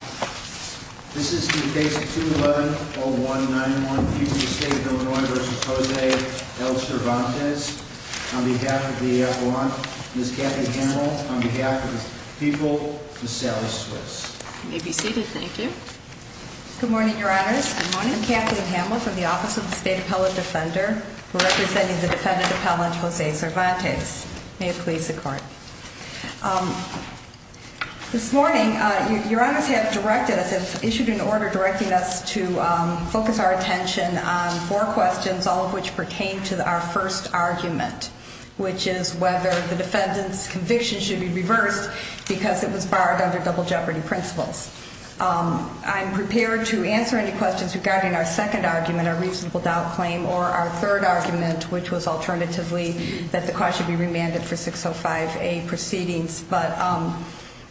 This is the case of 211-0191, Puget State, Illinois v. Jose L. Cervantes. On behalf of the appellant, Ms. Kathleen Hamel. On behalf of the people, Ms. Sally Switz. You may be seated. Thank you. Good morning, Your Honors. Good morning. I'm Kathleen Hamel from the Office of the State Appellant Defender, representing the defendant appellant, Jose Cervantes. May it please the Court. This morning, Your Honors have directed us, issued an order directing us to focus our attention on four questions, all of which pertain to our first argument, which is whether the defendant's conviction should be reversed because it was barred under double jeopardy principles. I'm prepared to answer any questions regarding our second argument, our reasonable doubt claim, or our third argument, which was alternatively that the cause should be remanded for 605A proceedings, but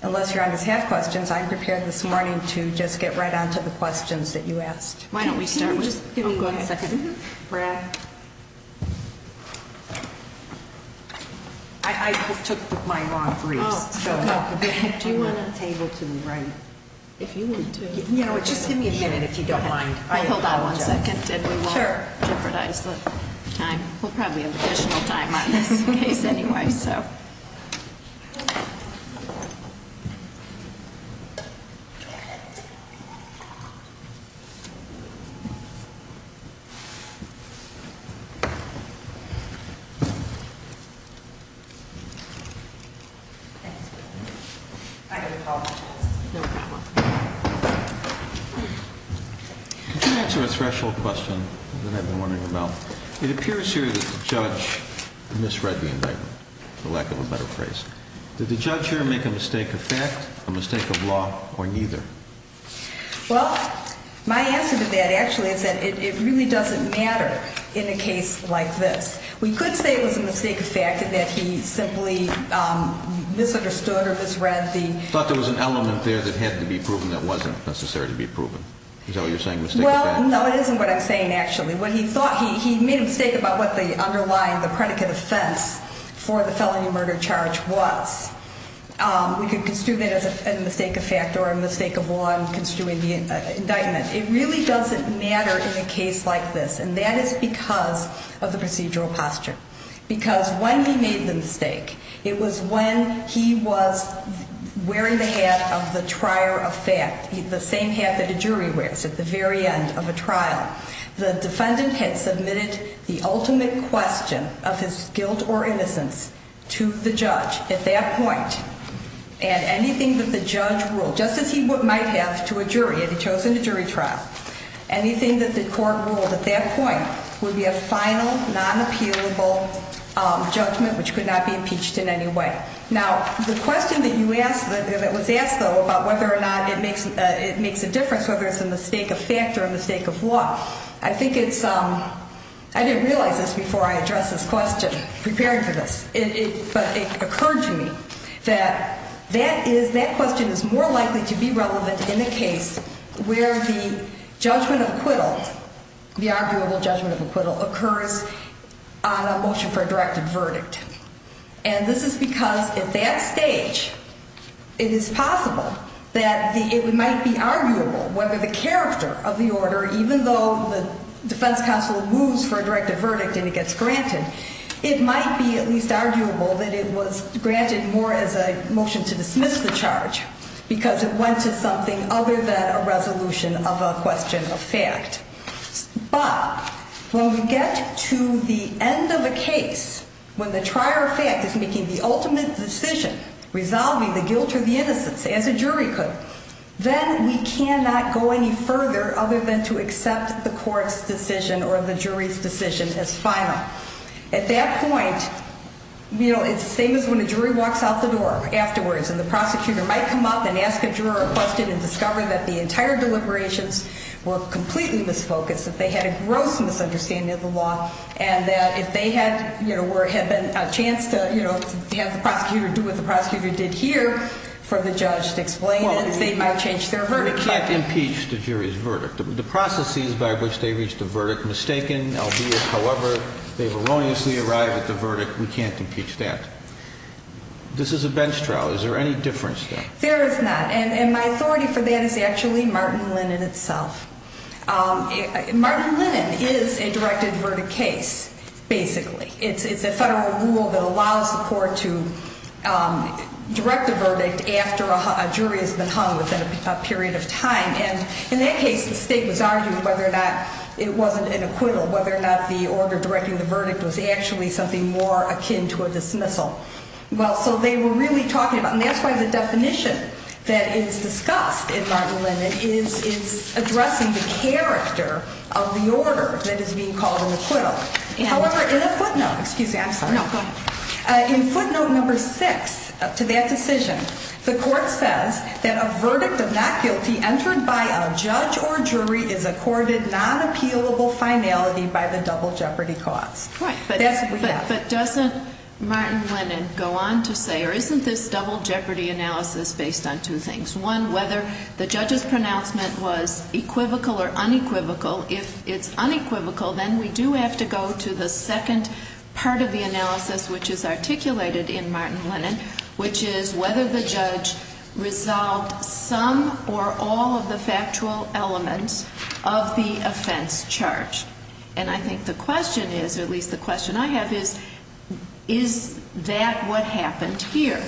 unless Your Honors have questions, I'm prepared this morning to just get right on to the questions that you asked. Why don't we start? Go ahead. Brad. I took my long briefs. Do you want a table to write? If you want to. You know what, just give me a minute if you don't mind. I apologize. We'll hold on one second and we won't jeopardize the time. We'll probably have additional time on this case anyway, so. Could you answer a threshold question that I've been wondering about? It appears here that the judge misread the indictment, for lack of a better phrase. Did the judge here make a mistake of fact, a mistake of law, or neither? Well, my answer to that actually is that it really doesn't matter in a case like this. We could say it was a mistake of fact and that he simply misunderstood or misread the... Thought there was an element there that had to be proven that wasn't necessary to be proven. Is that what you're saying, mistake of fact? Well, no, it isn't what I'm saying actually. He made a mistake about what the underlying, the predicate offense for the felony murder charge was. We could construe that as a mistake of fact or a mistake of law in construing the indictment. It really doesn't matter in a case like this, and that is because of the procedural posture. Because when he made the mistake, it was when he was wearing the hat of the trier of fact, the same hat that a jury wears at the very end of a trial. The defendant had submitted the ultimate question of his guilt or innocence to the judge at that point. And anything that the judge ruled, just as he might have to a jury, had he chosen a jury trial, anything that the court ruled at that point would be a final, non-appealable judgment which could not be impeached in any way. Now, the question that you asked, that was asked, though, about whether or not it makes a difference, whether it's a mistake of fact or a mistake of law, I think it's, I didn't realize this before I addressed this question, preparing for this, but it occurred to me that that is, that question is more likely to be relevant in a case where the judgment of acquittal, the arguable judgment of acquittal, occurs on a motion for a directed verdict. And this is because at that stage, it is possible that it might be arguable whether the character of the order, even though the defense counsel moves for a directed verdict and it gets granted, it might be at least arguable that it was granted more as a motion to dismiss the charge because it went to something other than a resolution of a question of fact. But when we get to the end of a case, when the trier of fact is making the ultimate decision, resolving the guilt or the innocence, as a jury could, then we cannot go any further other than to accept the court's decision or the jury's decision as final. At that point, you know, it's the same as when a jury walks out the door afterwards and the prosecutor might come up and ask a juror a question and discover that the entire deliberations were completely misfocused, that they had a gross misunderstanding of the law, and that if they had, you know, had a chance to, you know, have the prosecutor do what the prosecutor did here for the judge to explain it, they might change their verdict. We can't impeach the jury's verdict. The processes by which they reached a verdict, mistaken, albeit, however, they've erroneously arrived at the verdict, we can't impeach that. This is a bench trial. Is there any difference there? There is not. And my authority for that is actually Martin Lennon itself. Martin Lennon is a directed verdict case, basically. It's a federal rule that allows the court to direct a verdict after a jury has been hung within a period of time. And in that case, the state was arguing whether or not it wasn't an acquittal, whether or not the order directing the verdict was actually something more akin to a dismissal. Well, so they were really talking about, and that's why the definition that is discussed in Martin Lennon is addressing the character of the order that is being called an acquittal. However, in a footnote, excuse me, I'm sorry. No, go ahead. In footnote number six to that decision, the court says that a verdict of not guilty entered by a judge or jury is accorded non-appealable finality by the double jeopardy cause. Right. That's what we have. But doesn't Martin Lennon go on to say, or isn't this double jeopardy analysis based on two things? One, whether the judge's pronouncement was equivocal or unequivocal. If it's unequivocal, then we do have to go to the second part of the analysis which is articulated in Martin Lennon, which is whether the judge resolved some or all of the factual elements of the offense charge. And I think the question is, or at least the question I have is, is that what happened here?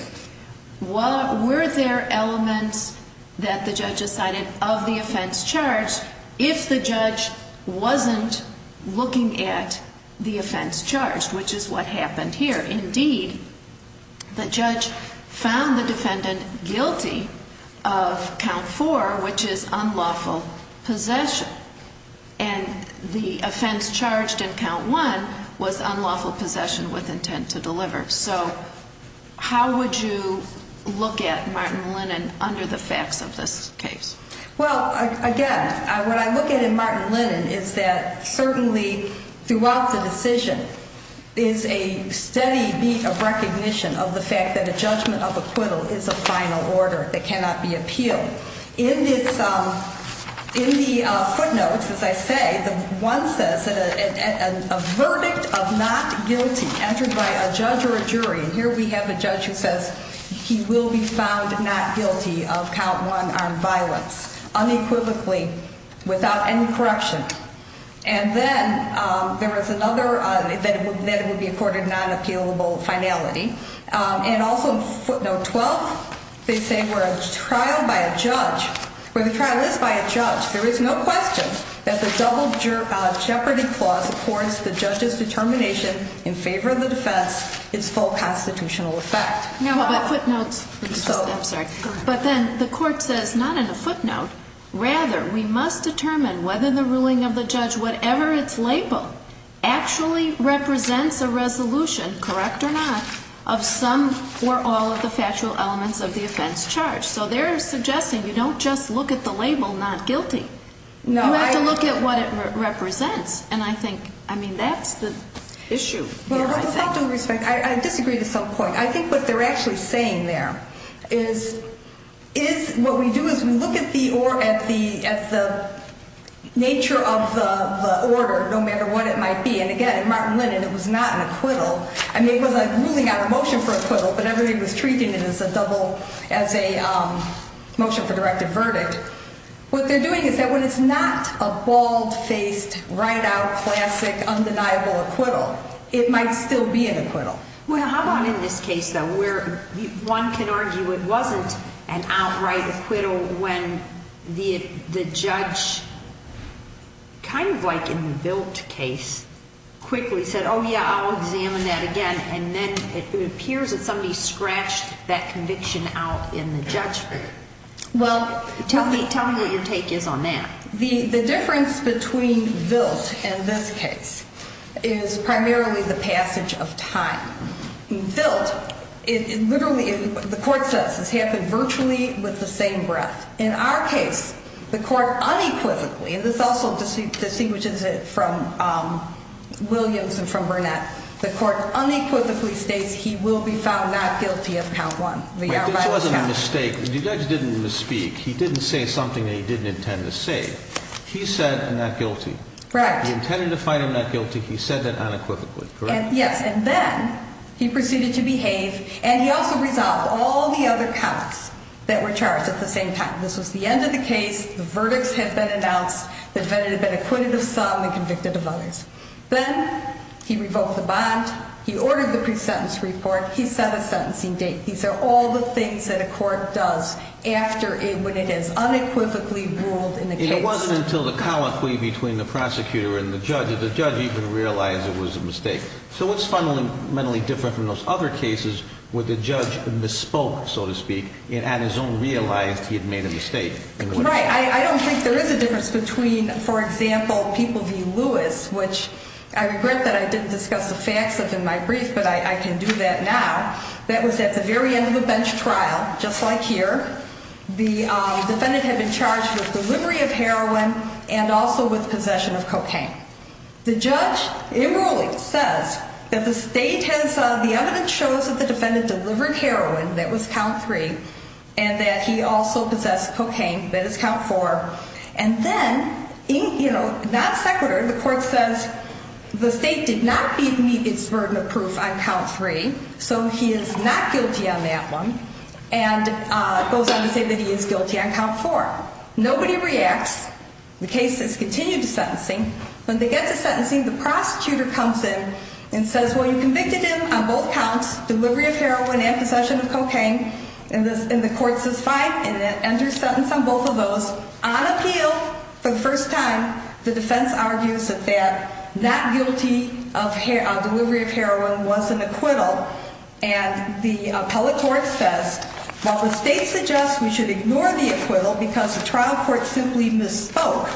Were there elements that the judge decided of the offense charge if the judge wasn't looking at the offense charge, which is what happened here? Indeed, the judge found the defendant guilty of count four, which is unlawful possession. And the offense charged in count one was unlawful possession with intent to deliver. So how would you look at Martin Lennon under the facts of this case? Well, again, what I look at in Martin Lennon is that certainly throughout the decision is a steady beat of recognition of the fact that a judgment of acquittal is a final order that cannot be appealed. In the footnotes, as I say, one says a verdict of not guilty entered by a judge or a jury. And here we have a judge who says he will be found not guilty of count one armed violence unequivocally without any correction. And then there is another that it would be accorded a non-appealable finality. And also footnote 12, they say where a trial by a judge, where the trial is by a judge, there is no question that the double jeopardy clause affords the judge's determination in favor of the defense its full constitutional effect. No, but footnotes, I'm sorry. But then the court says not in a footnote, rather we must determine whether the ruling of the judge, whatever its label, actually represents a resolution, correct or not, of some or all of the factual elements of the offense charged. So they're suggesting you don't just look at the label not guilty. No. You have to look at what it represents. And I think, I mean, that's the issue here, I think. Well, with all due respect, I disagree to some point. I think what they're actually saying there is what we do is we look at the nature of the order, no matter what it might be. And again, in Martin Lennon, it was not an acquittal. I mean, it was a ruling out of motion for acquittal, but everybody was treating it as a motion for directive verdict. What they're doing is that when it's not a bald-faced, right-out, classic, undeniable acquittal, it might still be an acquittal. Well, how about in this case, though, where one can argue it wasn't an outright acquittal when the judge, kind of like in the Vilt case, quickly said, oh, yeah, I'll examine that again. And then it appears that somebody scratched that conviction out in the judgment. Well, tell me what your take is on that. The difference between Vilt and this case is primarily the passage of time. In Vilt, literally, the court says this happened virtually with the same breath. In our case, the court unequivocally, and this also distinguishes it from Williams and from Burnett, the court unequivocally states he will be found not guilty of count one. Wait, this wasn't a mistake. The judge didn't misspeak. He didn't say something that he didn't intend to say. He said not guilty. Right. He intended to find him not guilty. He said that unequivocally, correct? Yes. And then he proceeded to behave, and he also resolved all the other counts that were charged at the same time. This was the end of the case. The verdicts had been announced. The defendant had been acquitted of some and convicted of others. Then he revoked the bond. He ordered the pre-sentence report. He set a sentencing date. These are all the things that a court does when it is unequivocally ruled in the case. It wasn't until the colloquy between the prosecutor and the judge that the judge even realized it was a mistake. So what's fundamentally different from those other cases where the judge misspoke, so to speak, and at his own realized he had made a mistake? Right. I don't think there is a difference between, for example, People v. Lewis, which I regret that I didn't discuss the facts of in my brief, but I can do that now. That was at the very end of the bench trial, just like here. The defendant had been charged with delivery of heroin and also with possession of cocaine. The judge, in ruling, says that the evidence shows that the defendant delivered heroin, that was count three, and that he also possessed cocaine, that is count four. And then, not sequitur, the court says the state did not meet its burden of proof on count three, so he is not guilty on that one, and goes on to say that he is guilty on count four. Nobody reacts. The case is continued to sentencing. When they get to sentencing, the prosecutor comes in and says, well, you convicted him on both counts, delivery of heroin and possession of cocaine. And the court says fine, and then enters sentence on both of those. On appeal, for the first time, the defense argues that that guilty on delivery of heroin was an acquittal. And the appellate court says, well, the state suggests we should ignore the acquittal because the trial court simply misspoke.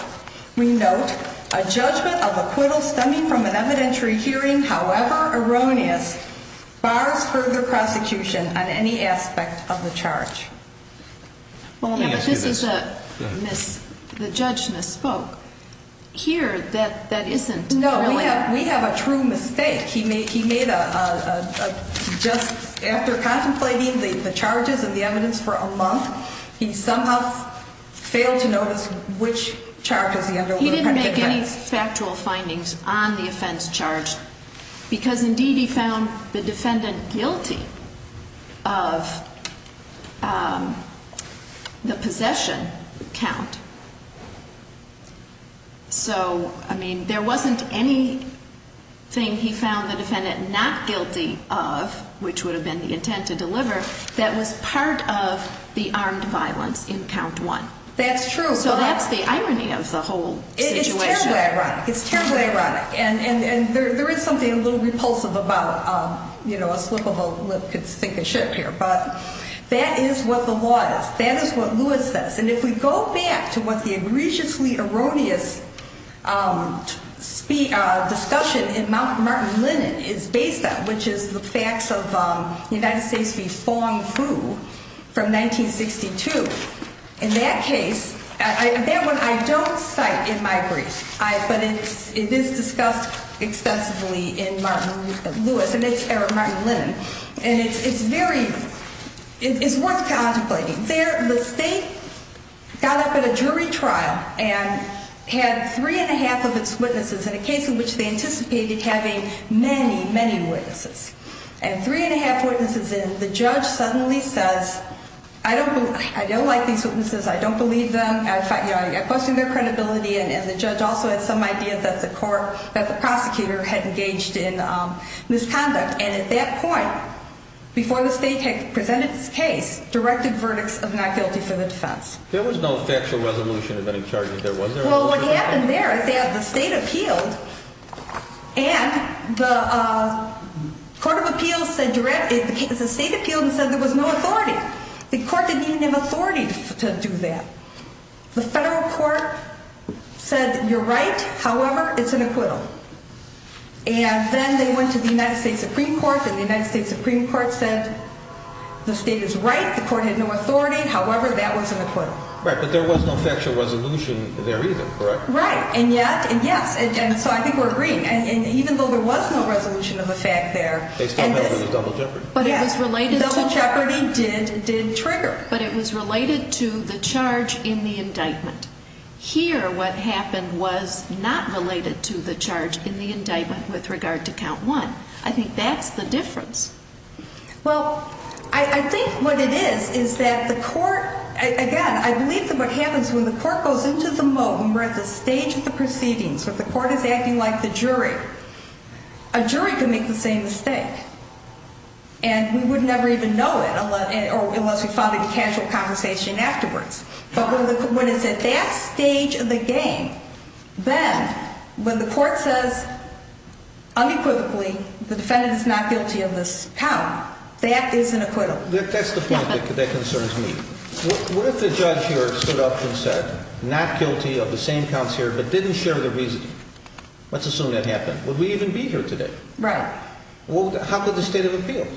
We note, a judgment of acquittal stemming from an evidentiary hearing, however erroneous, bars further prosecution on any aspect of the charge. Well, let me ask you this. Yeah, but this is a miss, the judge misspoke. Here, that isn't really. No, we have a true mistake. He made a, just after contemplating the charges and the evidence for a month, he somehow failed to notice which charges he underwent. He didn't make any factual findings on the offense charge, because indeed he found the defendant guilty of the possession count. So, I mean, there wasn't anything he found the defendant not guilty of, which would have been the intent to deliver, that was part of the armed violence in count one. That's true. So that's the irony of the whole situation. It is terribly ironic. It's terribly ironic. And there is something a little repulsive about, you know, a slip of a lip could stink a ship here. But that is what the law is. That is what Lewis says. And if we go back to what the egregiously erroneous discussion in Martin Lennon is based on, which is the facts of the United States v. Fong Fu from 1962. In that case, that one I don't cite in my brief. But it is discussed extensively in Martin Lewis, or Martin Lennon. And it's very, it's worth contemplating. There, the state got up at a jury trial and had three and a half of its witnesses in a case in which they anticipated having many, many witnesses. And three and a half witnesses, and the judge suddenly says, I don't like these witnesses. I don't believe them. I question their credibility. And the judge also had some idea that the prosecutor had engaged in misconduct. And at that point, before the state had presented its case, directed verdicts of not guilty for the defense. There was no factual resolution of any charges there, was there? Well, what happened there is they had the state appealed, and the court of appeals said, the state appealed and said there was no authority. The court didn't even have authority to do that. The federal court said, you're right, however, it's an acquittal. And then they went to the United States Supreme Court, and the United States Supreme Court said, the state is right, the court had no authority, however, that was an acquittal. Right, but there was no factual resolution there either, correct? Right, and yet, and yes, and so I think we're agreeing. And even though there was no resolution of the fact there. They still know there was double jeopardy. Yes, double jeopardy did trigger. But it was related to the charge in the indictment. Here, what happened was not related to the charge in the indictment with regard to count one. I think that's the difference. Well, I think what it is is that the court, again, I believe that what happens when the court goes into the moat, when we're at the stage of the proceedings, when the court is acting like the jury, a jury can make the same mistake. And we would never even know it unless we found it in casual conversation afterwards. But when it's at that stage of the game, then when the court says unequivocally, the defendant is not guilty of this count, that is an acquittal. That's the point that concerns me. What if the judge here stood up and said, not guilty of the same counts here, but didn't share the reasoning? Let's assume that happened. Would we even be here today? Right. How could the state of appeal?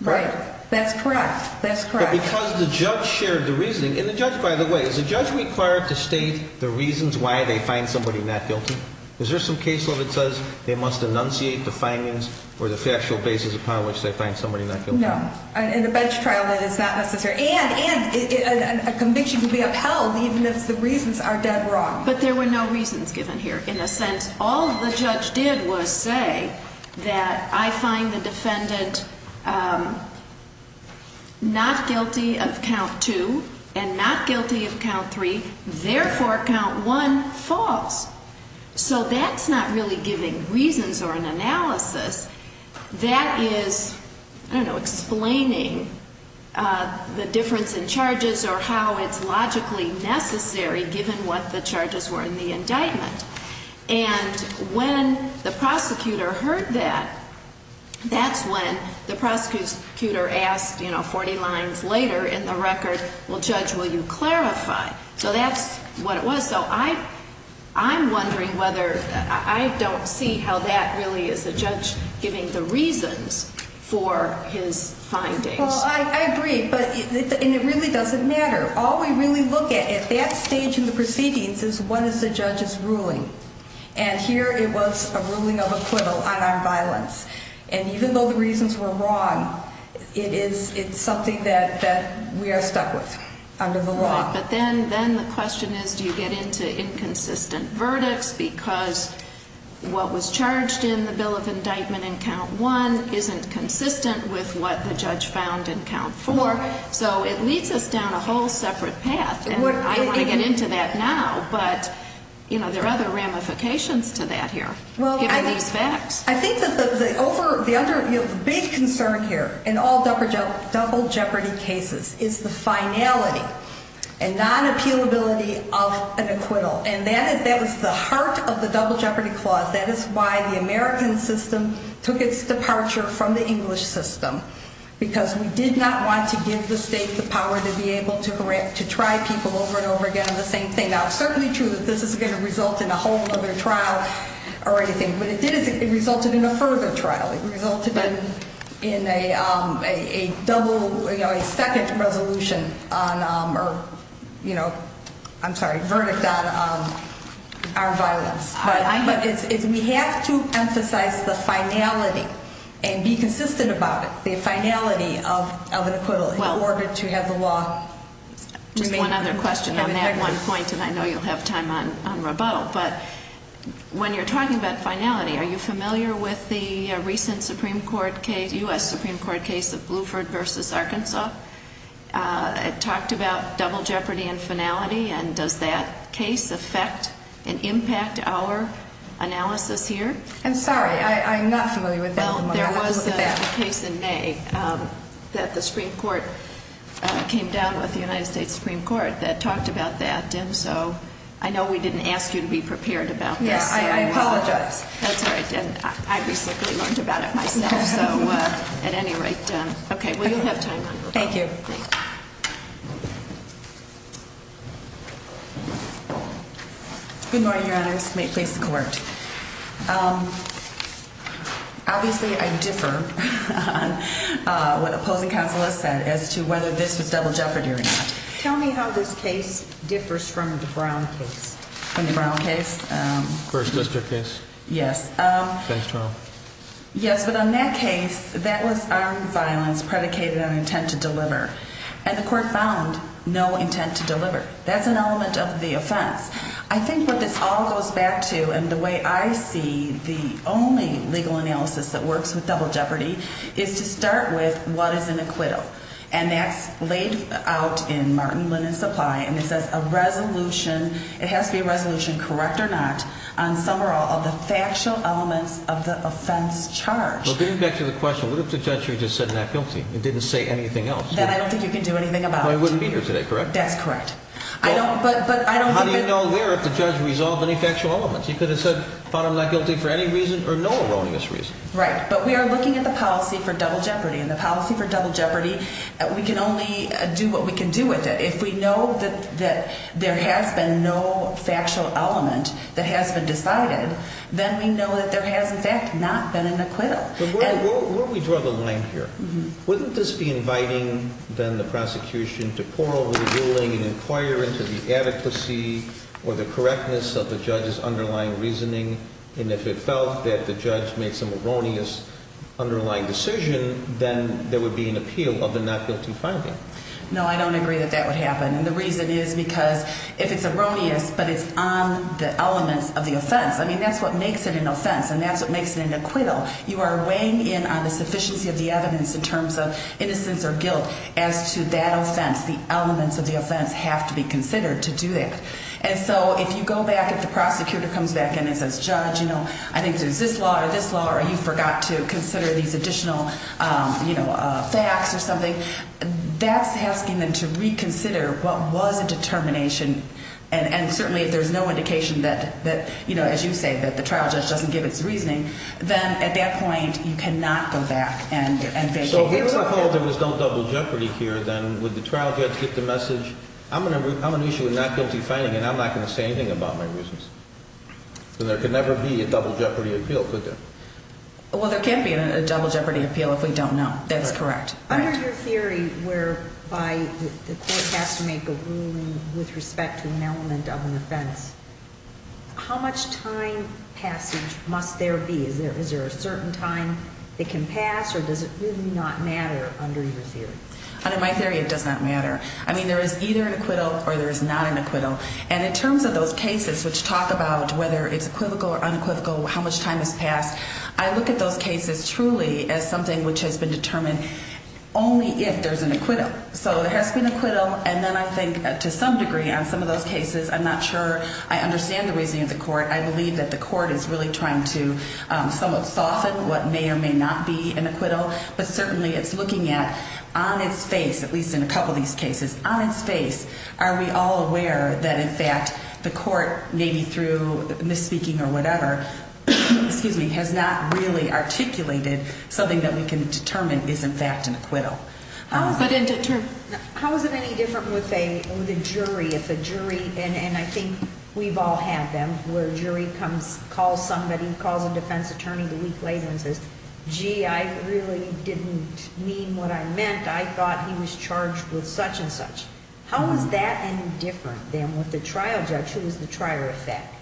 Right, that's correct, that's correct. Because the judge shared the reasoning. And the judge, by the way, is the judge required to state the reasons why they find somebody not guilty? Is there some case where it says they must enunciate the findings or the factual basis upon which they find somebody not guilty? No. In a bench trial, that is not necessary. And a conviction can be upheld even if the reasons are dead wrong. But there were no reasons given here. In a sense, all the judge did was say that I find the defendant not guilty of count two and not guilty of count three. Therefore, count one, false. So that's not really giving reasons or an analysis. That is, I don't know, explaining the difference in charges or how it's logically necessary given what the charges were in the indictment. And when the prosecutor heard that, that's when the prosecutor asked, you know, 40 lines later in the record, well, judge, will you clarify? So that's what it was. So I'm wondering whether I don't see how that really is the judge giving the reasons for his findings. Well, I agree. And it really doesn't matter. All we really look at at that stage in the proceedings is what is the judge's ruling. And here it was a ruling of acquittal on our violence. And even though the reasons were wrong, it's something that we are stuck with under the law. But then the question is, do you get into inconsistent verdicts because what was charged in the bill of indictment in count one isn't consistent with what the judge found in count four? So it leads us down a whole separate path. And I don't want to get into that now, but, you know, there are other ramifications to that here, given these facts. I think that the big concern here in all double jeopardy cases is the finality and non-appealability of an acquittal. And that is the heart of the double jeopardy clause. That is why the American system took its departure from the English system, because we did not want to give the state the power to be able to try people over and over again on the same thing. Now, it's certainly true that this isn't going to result in a whole other trial or anything. What it did is it resulted in a further trial. It resulted in a double, you know, a second resolution or, you know, I'm sorry, verdict on our violence. But we have to emphasize the finality and be consistent about it, the finality of an acquittal in order to have the law remain in effect. One other question on that one point, and I know you'll have time on rebuttal. But when you're talking about finality, are you familiar with the recent Supreme Court case, U.S. Supreme Court case of Bluford v. Arkansas? It talked about double jeopardy and finality, and does that case affect and impact our analysis here? I'm sorry, I'm not familiar with that one. Well, there was a case in May that the Supreme Court came down with the United States Supreme Court that talked about that. And so I know we didn't ask you to be prepared about this. Yeah, I apologize. That's all right. I recently learned about it myself. So at any rate, okay, well, you'll have time on rebuttal. Thank you. Good morning, Your Honors. May it please the Court. Obviously, I differ on what opposing counsel has said as to whether this was double jeopardy or not. Tell me how this case differs from the Brown case. From the Brown case? First district case. Yes. Yes, but on that case, that was armed violence predicated on intent to deliver. And the Court found no intent to deliver. That's an element of the offense. I think what this all goes back to, and the way I see the only legal analysis that works with double jeopardy, is to start with what is an acquittal. And that's laid out in Martin, Linn, and Supply. And it says a resolution, it has to be a resolution, correct or not, on some or all of the factual elements of the offense charged. Well, getting back to the question, what if the judge here just said not guilty and didn't say anything else? Then I don't think you can do anything about it. Well, he wouldn't be here today, correct? That's correct. How do you know here if the judge resolved any factual elements? He could have said, found him not guilty for any reason or no erroneous reason. Right, but we are looking at the policy for double jeopardy, and the policy for double jeopardy, we can only do what we can do with it. If we know that there has been no factual element that has been decided, then we know that there has, in fact, not been an acquittal. But where do we draw the line here? Wouldn't this be inviting, then, the prosecution to plurally ruling and inquire into the adequacy or the correctness of the judge's underlying reasoning? And if it felt that the judge made some erroneous underlying decision, then there would be an appeal of the not guilty finding. No, I don't agree that that would happen. And the reason is because if it's erroneous, but it's on the elements of the offense, I mean, that's what makes it an offense, and that's what makes it an acquittal. You are weighing in on the sufficiency of the evidence in terms of innocence or guilt as to that offense. The elements of the offense have to be considered to do that. And so if you go back, if the prosecutor comes back in and says, Judge, you know, I think there's this law or this law, or you forgot to consider these additional, you know, facts or something, that's asking them to reconsider what was a determination. And certainly, if there's no indication that, you know, as you say, that the trial judge doesn't give its reasoning, then at that point, you cannot go back and vacate the case. So if I told them just don't double jeopardy here, then would the trial judge get the message, I'm an issue with not guilty finding, and I'm not going to say anything about my reasons? Then there could never be a double jeopardy appeal, could there? Well, there can be a double jeopardy appeal if we don't know. That is correct. Under your theory whereby the court has to make a ruling with respect to an element of an offense, how much time passage must there be? Is there a certain time it can pass, or does it really not matter under your theory? Under my theory, it does not matter. I mean, there is either an acquittal or there is not an acquittal. And in terms of those cases which talk about whether it's equivocal or unequivocal, how much time has passed, I look at those cases truly as something which has been determined only if there's an acquittal. So there has been an acquittal, and then I think to some degree on some of those cases, I'm not sure I understand the reasoning of the court. I believe that the court is really trying to somewhat soften what may or may not be an acquittal. But certainly it's looking at, on its face, at least in a couple of these cases, on its face, are we all aware that in fact the court, maybe through misspeaking or whatever, has not really articulated something that we can determine is in fact an acquittal? But in terms of, how is it any different with a jury? If a jury, and I think we've all had them, where a jury calls somebody, calls a defense attorney the week later and says, gee, I really didn't mean what I meant. I thought he was charged with such and such. How is that any different than with the trial judge who was the trier of fact?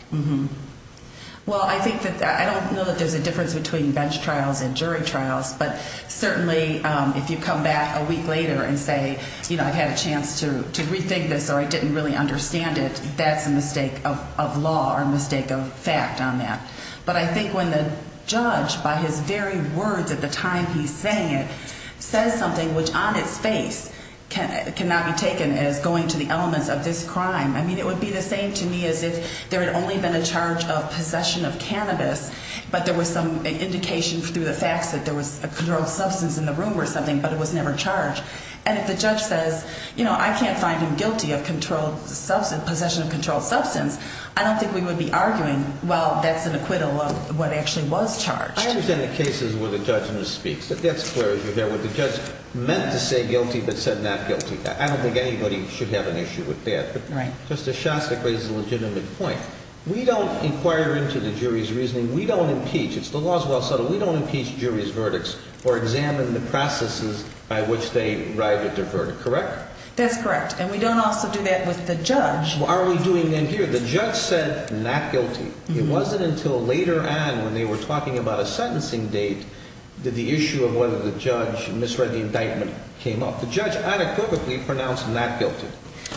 Well, I think that I don't know that there's a difference between bench trials and jury trials, but certainly if you come back a week later and say, you know, I've had a chance to rethink this or I didn't really understand it, that's a mistake of law or a mistake of fact on that. But I think when the judge, by his very words at the time he's saying it, says something which on its face cannot be taken as going to the elements of this crime, I mean, it would be the same to me as if there had only been a charge of possession of cannabis, but there was some indication through the facts that there was a controlled substance in the room or something, but it was never charged. And if the judge says, you know, I can't find him guilty of possession of controlled substance, I don't think we would be arguing, well, that's an acquittal of what actually was charged. I understand the cases where the judge speaks. That's clear as you're there, where the judge meant to say guilty but said not guilty. I don't think anybody should have an issue with that. Right. But Justice Shostak raises a legitimate point. We don't inquire into the jury's reasoning. We don't impeach. It's the law's well settled. We don't impeach jury's verdicts or examine the processes by which they arrived at their verdict, correct? That's correct. And we don't also do that with the judge. What are we doing then here? The judge said not guilty. It wasn't until later on when they were talking about a sentencing date that the issue of whether the judge misread the indictment came up. The judge unequivocally pronounced not guilty.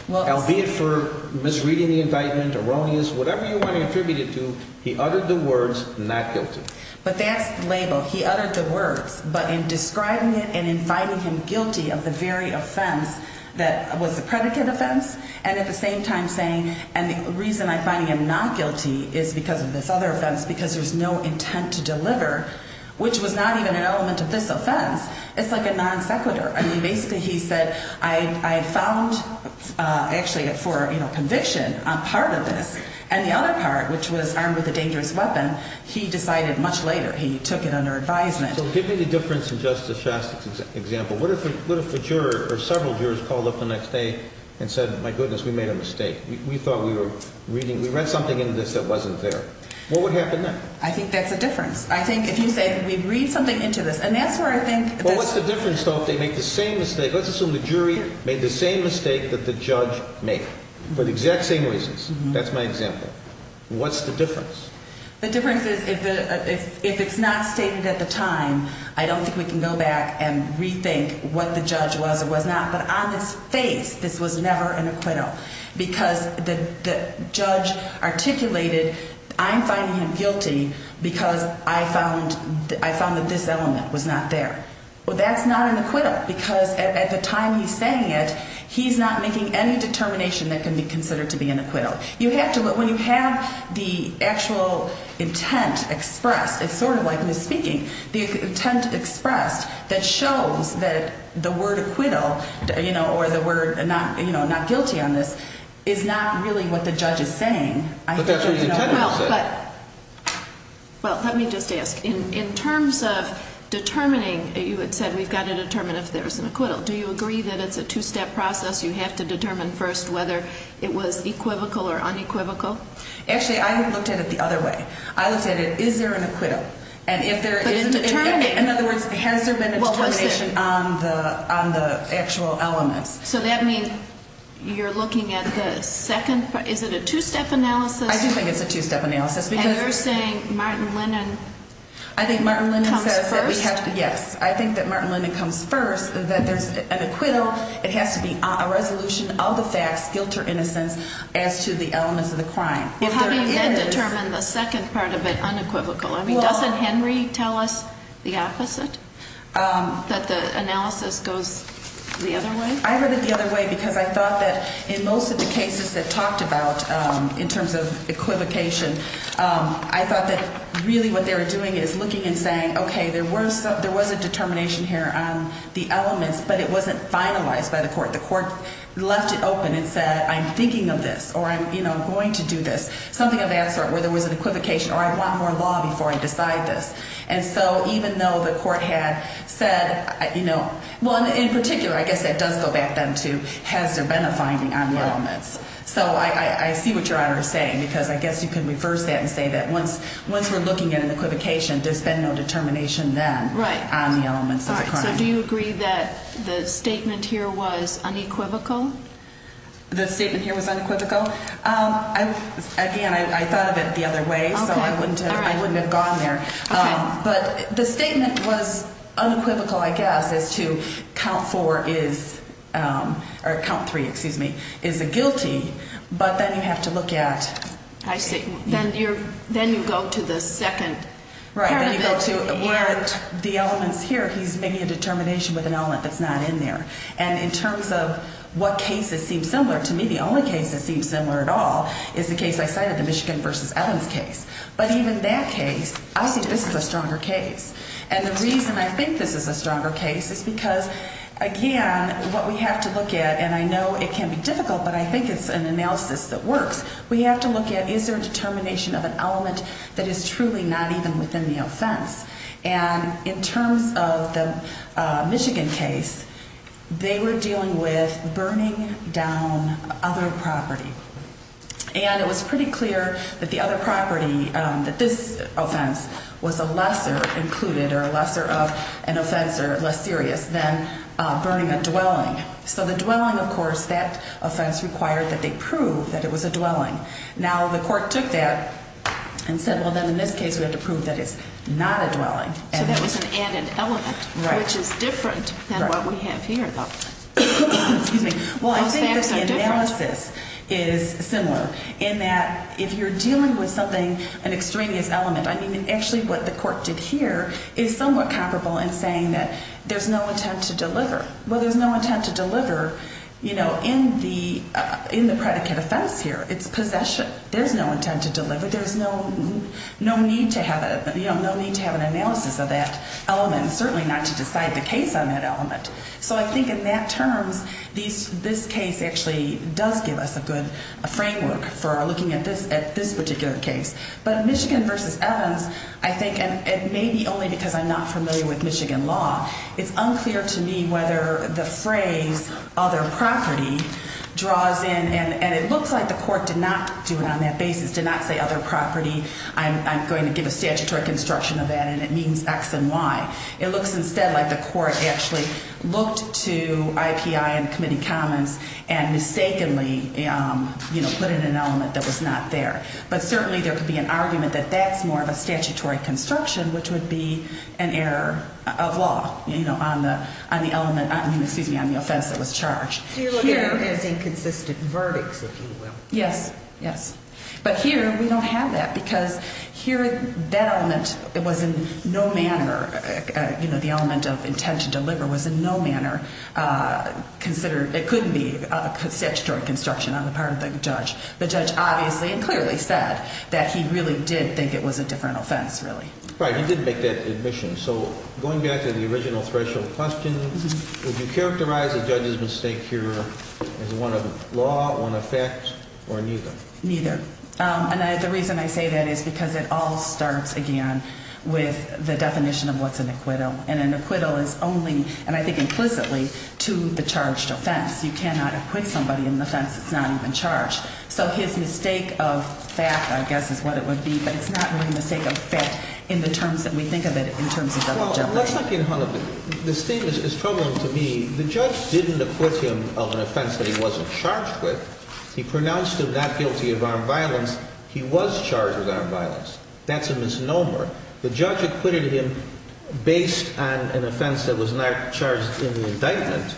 Albeit for misreading the indictment, erroneous, whatever you want to attribute it to, he uttered the words not guilty. But that's the label. He uttered the words. But in describing it and in finding him guilty of the very offense that was the predicate offense and at the same time saying, and the reason I'm finding him not guilty is because of this other offense, because there's no intent to deliver, which was not even an element of this offense. It's like a non sequitur. I mean, basically he said I found actually for conviction a part of this. And the other part, which was armed with a dangerous weapon, he decided much later. He took it under advisement. So give me the difference in Justice Shastak's example. What if a juror or several jurors called up the next day and said, my goodness, we made a mistake. We thought we were reading. We read something in this that wasn't there. What would happen then? I think that's a difference. I think if you say we read something into this. Well, what's the difference, though, if they make the same mistake? Let's assume the jury made the same mistake that the judge made for the exact same reasons. That's my example. What's the difference? The difference is if it's not stated at the time, I don't think we can go back and rethink what the judge was or was not. But on this face, this was never an acquittal because the judge articulated I'm finding him guilty because I found that this element was not there. Well, that's not an acquittal because at the time he's saying it, he's not making any determination that can be considered to be an acquittal. When you have the actual intent expressed, it's sort of like misspeaking. The intent expressed that shows that the word acquittal or the word not guilty on this is not really what the judge is saying. But that's what he's intending to say. Well, let me just ask. In terms of determining, you had said we've got to determine if there's an acquittal. Do you agree that it's a two-step process? You have to determine first whether it was equivocal or unequivocal? Actually, I looked at it the other way. I looked at it, is there an acquittal? But it's determining. In other words, has there been a determination on the actual elements? So that means you're looking at the second part. Is it a two-step analysis? I do think it's a two-step analysis. And you're saying Martin Lennon comes first? Yes. I think that Martin Lennon comes first, that there's an acquittal. It has to be a resolution of the facts, guilt or innocence, as to the elements of the crime. Well, how do you then determine the second part of it unequivocal? I mean, doesn't Henry tell us the opposite, that the analysis goes the other way? I heard it the other way because I thought that in most of the cases that talked about in terms of equivocation, I thought that really what they were doing is looking and saying, okay, there was a determination here on the elements, but it wasn't finalized by the court. The court left it open and said, I'm thinking of this or I'm going to do this, something of that sort where there was an equivocation or I want more law before I decide this. And so even though the court had said, well, in particular, I guess that does go back then to has there been a finding on the elements. So I see what Your Honor is saying because I guess you can reverse that and say that once we're looking at an equivocation, there's been no determination then on the elements of the crime. So do you agree that the statement here was unequivocal? The statement here was unequivocal? Again, I thought of it the other way, so I wouldn't have gone there. But the statement was unequivocal, I guess, as to count four is or count three, excuse me, is a guilty. But then you have to look at. I see. Then you go to the second. Right. Then you go to where the elements here, he's making a determination with an element that's not in there. And in terms of what cases seem similar to me, the only case that seems similar at all is the case I cited, the Michigan v. Evans case. But even that case, I see this as a stronger case. And the reason I think this is a stronger case is because, again, what we have to look at, and I know it can be difficult, but I think it's an analysis that works. We have to look at is there a determination of an element that is truly not even within the offense. And in terms of the Michigan case, they were dealing with burning down other property. And it was pretty clear that the other property, that this offense, was a lesser included or a lesser of an offense or less serious than burning a dwelling. So the dwelling, of course, that offense required that they prove that it was a dwelling. Now, the court took that and said, well, then in this case we have to prove that it's not a dwelling. So that was an added element, which is different than what we have here, though. Well, I think that the analysis is similar in that if you're dealing with something, an extraneous element, I mean, actually what the court did here is somewhat comparable in saying that there's no intent to deliver. Well, there's no intent to deliver in the predicate offense here. It's possession. There's no intent to deliver. There's no need to have an analysis of that element and certainly not to decide the case on that element. So I think in that terms, this case actually does give us a good framework for looking at this particular case. But Michigan v. Evans, I think, and maybe only because I'm not familiar with Michigan law, it's unclear to me whether the phrase other property draws in. And it looks like the court did not do it on that basis, did not say other property. I'm going to give a statutory construction of that, and it means X and Y. It looks instead like the court actually looked to IPI and committee comments and mistakenly put in an element that was not there. But certainly there could be an argument that that's more of a statutory construction, which would be an error of law on the offense that was charged. So you're looking at it as inconsistent verdicts, if you will. Yes, yes. But here we don't have that because here that element was in no manner, you know, the element of intent to deliver was in no manner considered. It couldn't be a statutory construction on the part of the judge. The judge obviously and clearly said that he really did think it was a different offense, really. Right, he didn't make that admission. So going back to the original threshold question, would you characterize the judge's mistake here as one of law, one of fact, or neither? Neither. And the reason I say that is because it all starts, again, with the definition of what's an acquittal. And an acquittal is only, and I think implicitly, to the charged offense. You cannot acquit somebody in an offense that's not even charged. So his mistake of fact, I guess, is what it would be, but it's not really a mistake of fact in the terms that we think of it in terms of double jeopardy. Well, let's not get hung up. This thing is troubling to me. The judge didn't acquit him of an offense that he wasn't charged with. He pronounced him not guilty of armed violence. He was charged with armed violence. That's a misnomer. The judge acquitted him based on an offense that was not charged in the indictment,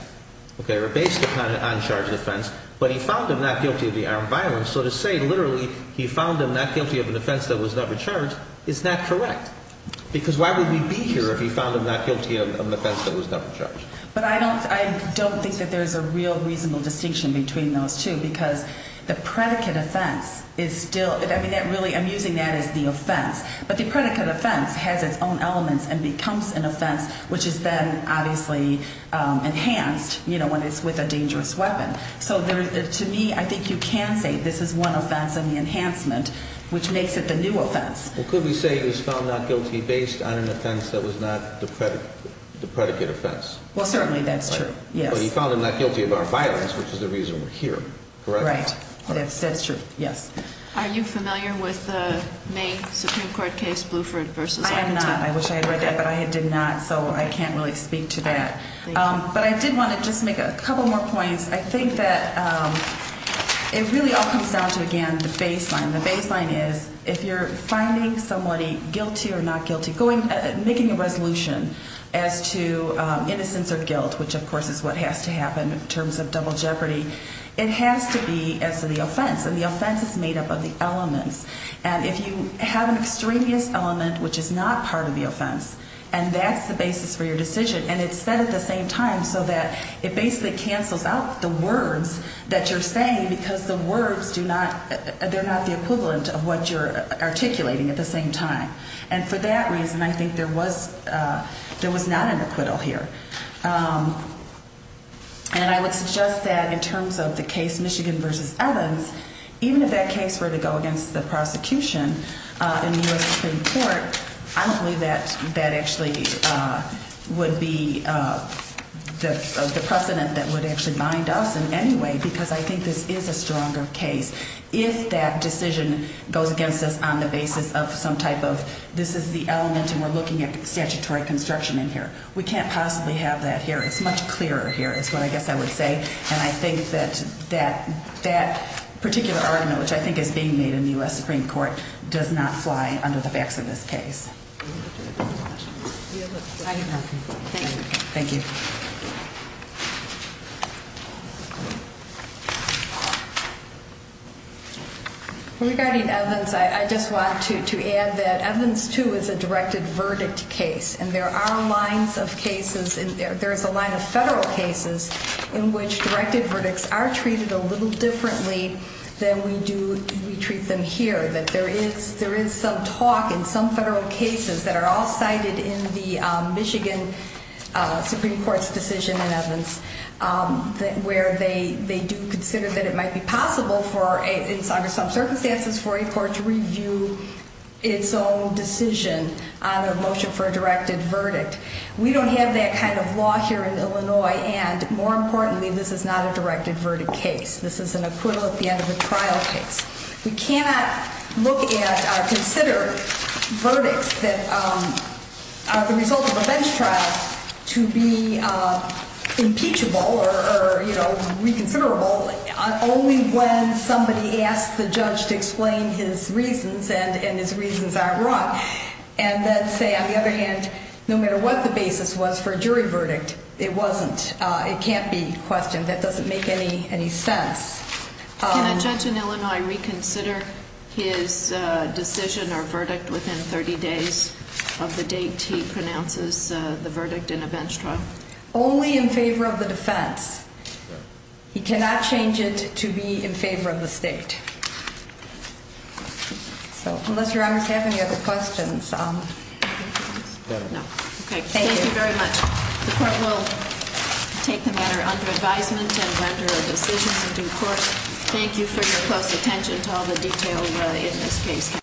or based upon an uncharged offense, but he found him not guilty of the armed violence. So to say literally he found him not guilty of an offense that was never charged is not correct. Because why would we be here if he found him not guilty of an offense that was never charged? But I don't think that there's a real reasonable distinction between those two because the predicate offense is still, I'm using that as the offense, but the predicate offense has its own elements and becomes an offense, which is then obviously enhanced when it's with a dangerous weapon. So to me, I think you can say this is one offense in the enhancement, which makes it the new offense. Well, could we say he was found not guilty based on an offense that was not the predicate offense? Well, certainly that's true, yes. But he found him not guilty of armed violence, which is the reason we're here, correct? Right, that's true, yes. Are you familiar with the main Supreme Court case, Bluford v. Arlington? I'm not. I wish I had read that, but I did not, so I can't really speak to that. But I did want to just make a couple more points. I think that it really all comes down to, again, the baseline. The baseline is if you're finding somebody guilty or not guilty, making a resolution as to innocence or guilt, which, of course, is what has to happen in terms of double jeopardy, it has to be as to the offense, and the offense is made up of the elements. And if you have an extraneous element, which is not part of the offense, and that's the basis for your decision, and it's said at the same time so that it basically cancels out the words that you're saying because the words do not ñ they're not the equivalent of what you're articulating at the same time. And for that reason, I think there was not an acquittal here. And I would suggest that in terms of the case Michigan v. Evans, even if that case were to go against the prosecution in the U.S. Supreme Court, I don't believe that that actually would be the precedent that would actually bind us in any way because I think this is a stronger case if that decision goes against us on the basis of some type of this is the element and we're looking at statutory construction in here. We can't possibly have that here. It's much clearer here is what I guess I would say. And I think that that particular argument, which I think is being made in the U.S. Supreme Court, does not fly under the facts of this case. Thank you. Regarding Evans, I just want to add that Evans, too, is a directed verdict case. And there are lines of cases ñ there's a line of federal cases in which directed verdicts are treated a little differently than we do ñ we treat them here. There is some talk in some federal cases that are all cited in the Michigan Supreme Court's decision in Evans where they do consider that it might be possible for, under some circumstances, for a court to review its own decision on a motion for a directed verdict. We don't have that kind of law here in Illinois. And more importantly, this is not a directed verdict case. This is an equivalent, the end of the trial case. We cannot look at or consider verdicts that are the result of a bench trial to be impeachable or reconsiderable only when somebody asks the judge to explain his reasons and his reasons aren't wrong. And then say, on the other hand, no matter what the basis was for a jury verdict, it wasn't. It can't be questioned. That doesn't make any sense. Can a judge in Illinois reconsider his decision or verdict within 30 days of the date he pronounces the verdict in a bench trial? Only in favor of the defense. He cannot change it to be in favor of the state. So, unless your honors have any other questions. No. Okay, thank you very much. The court will take the matter under advisement and render a decision in due course. Thank you for your close attention to all the detail in this case.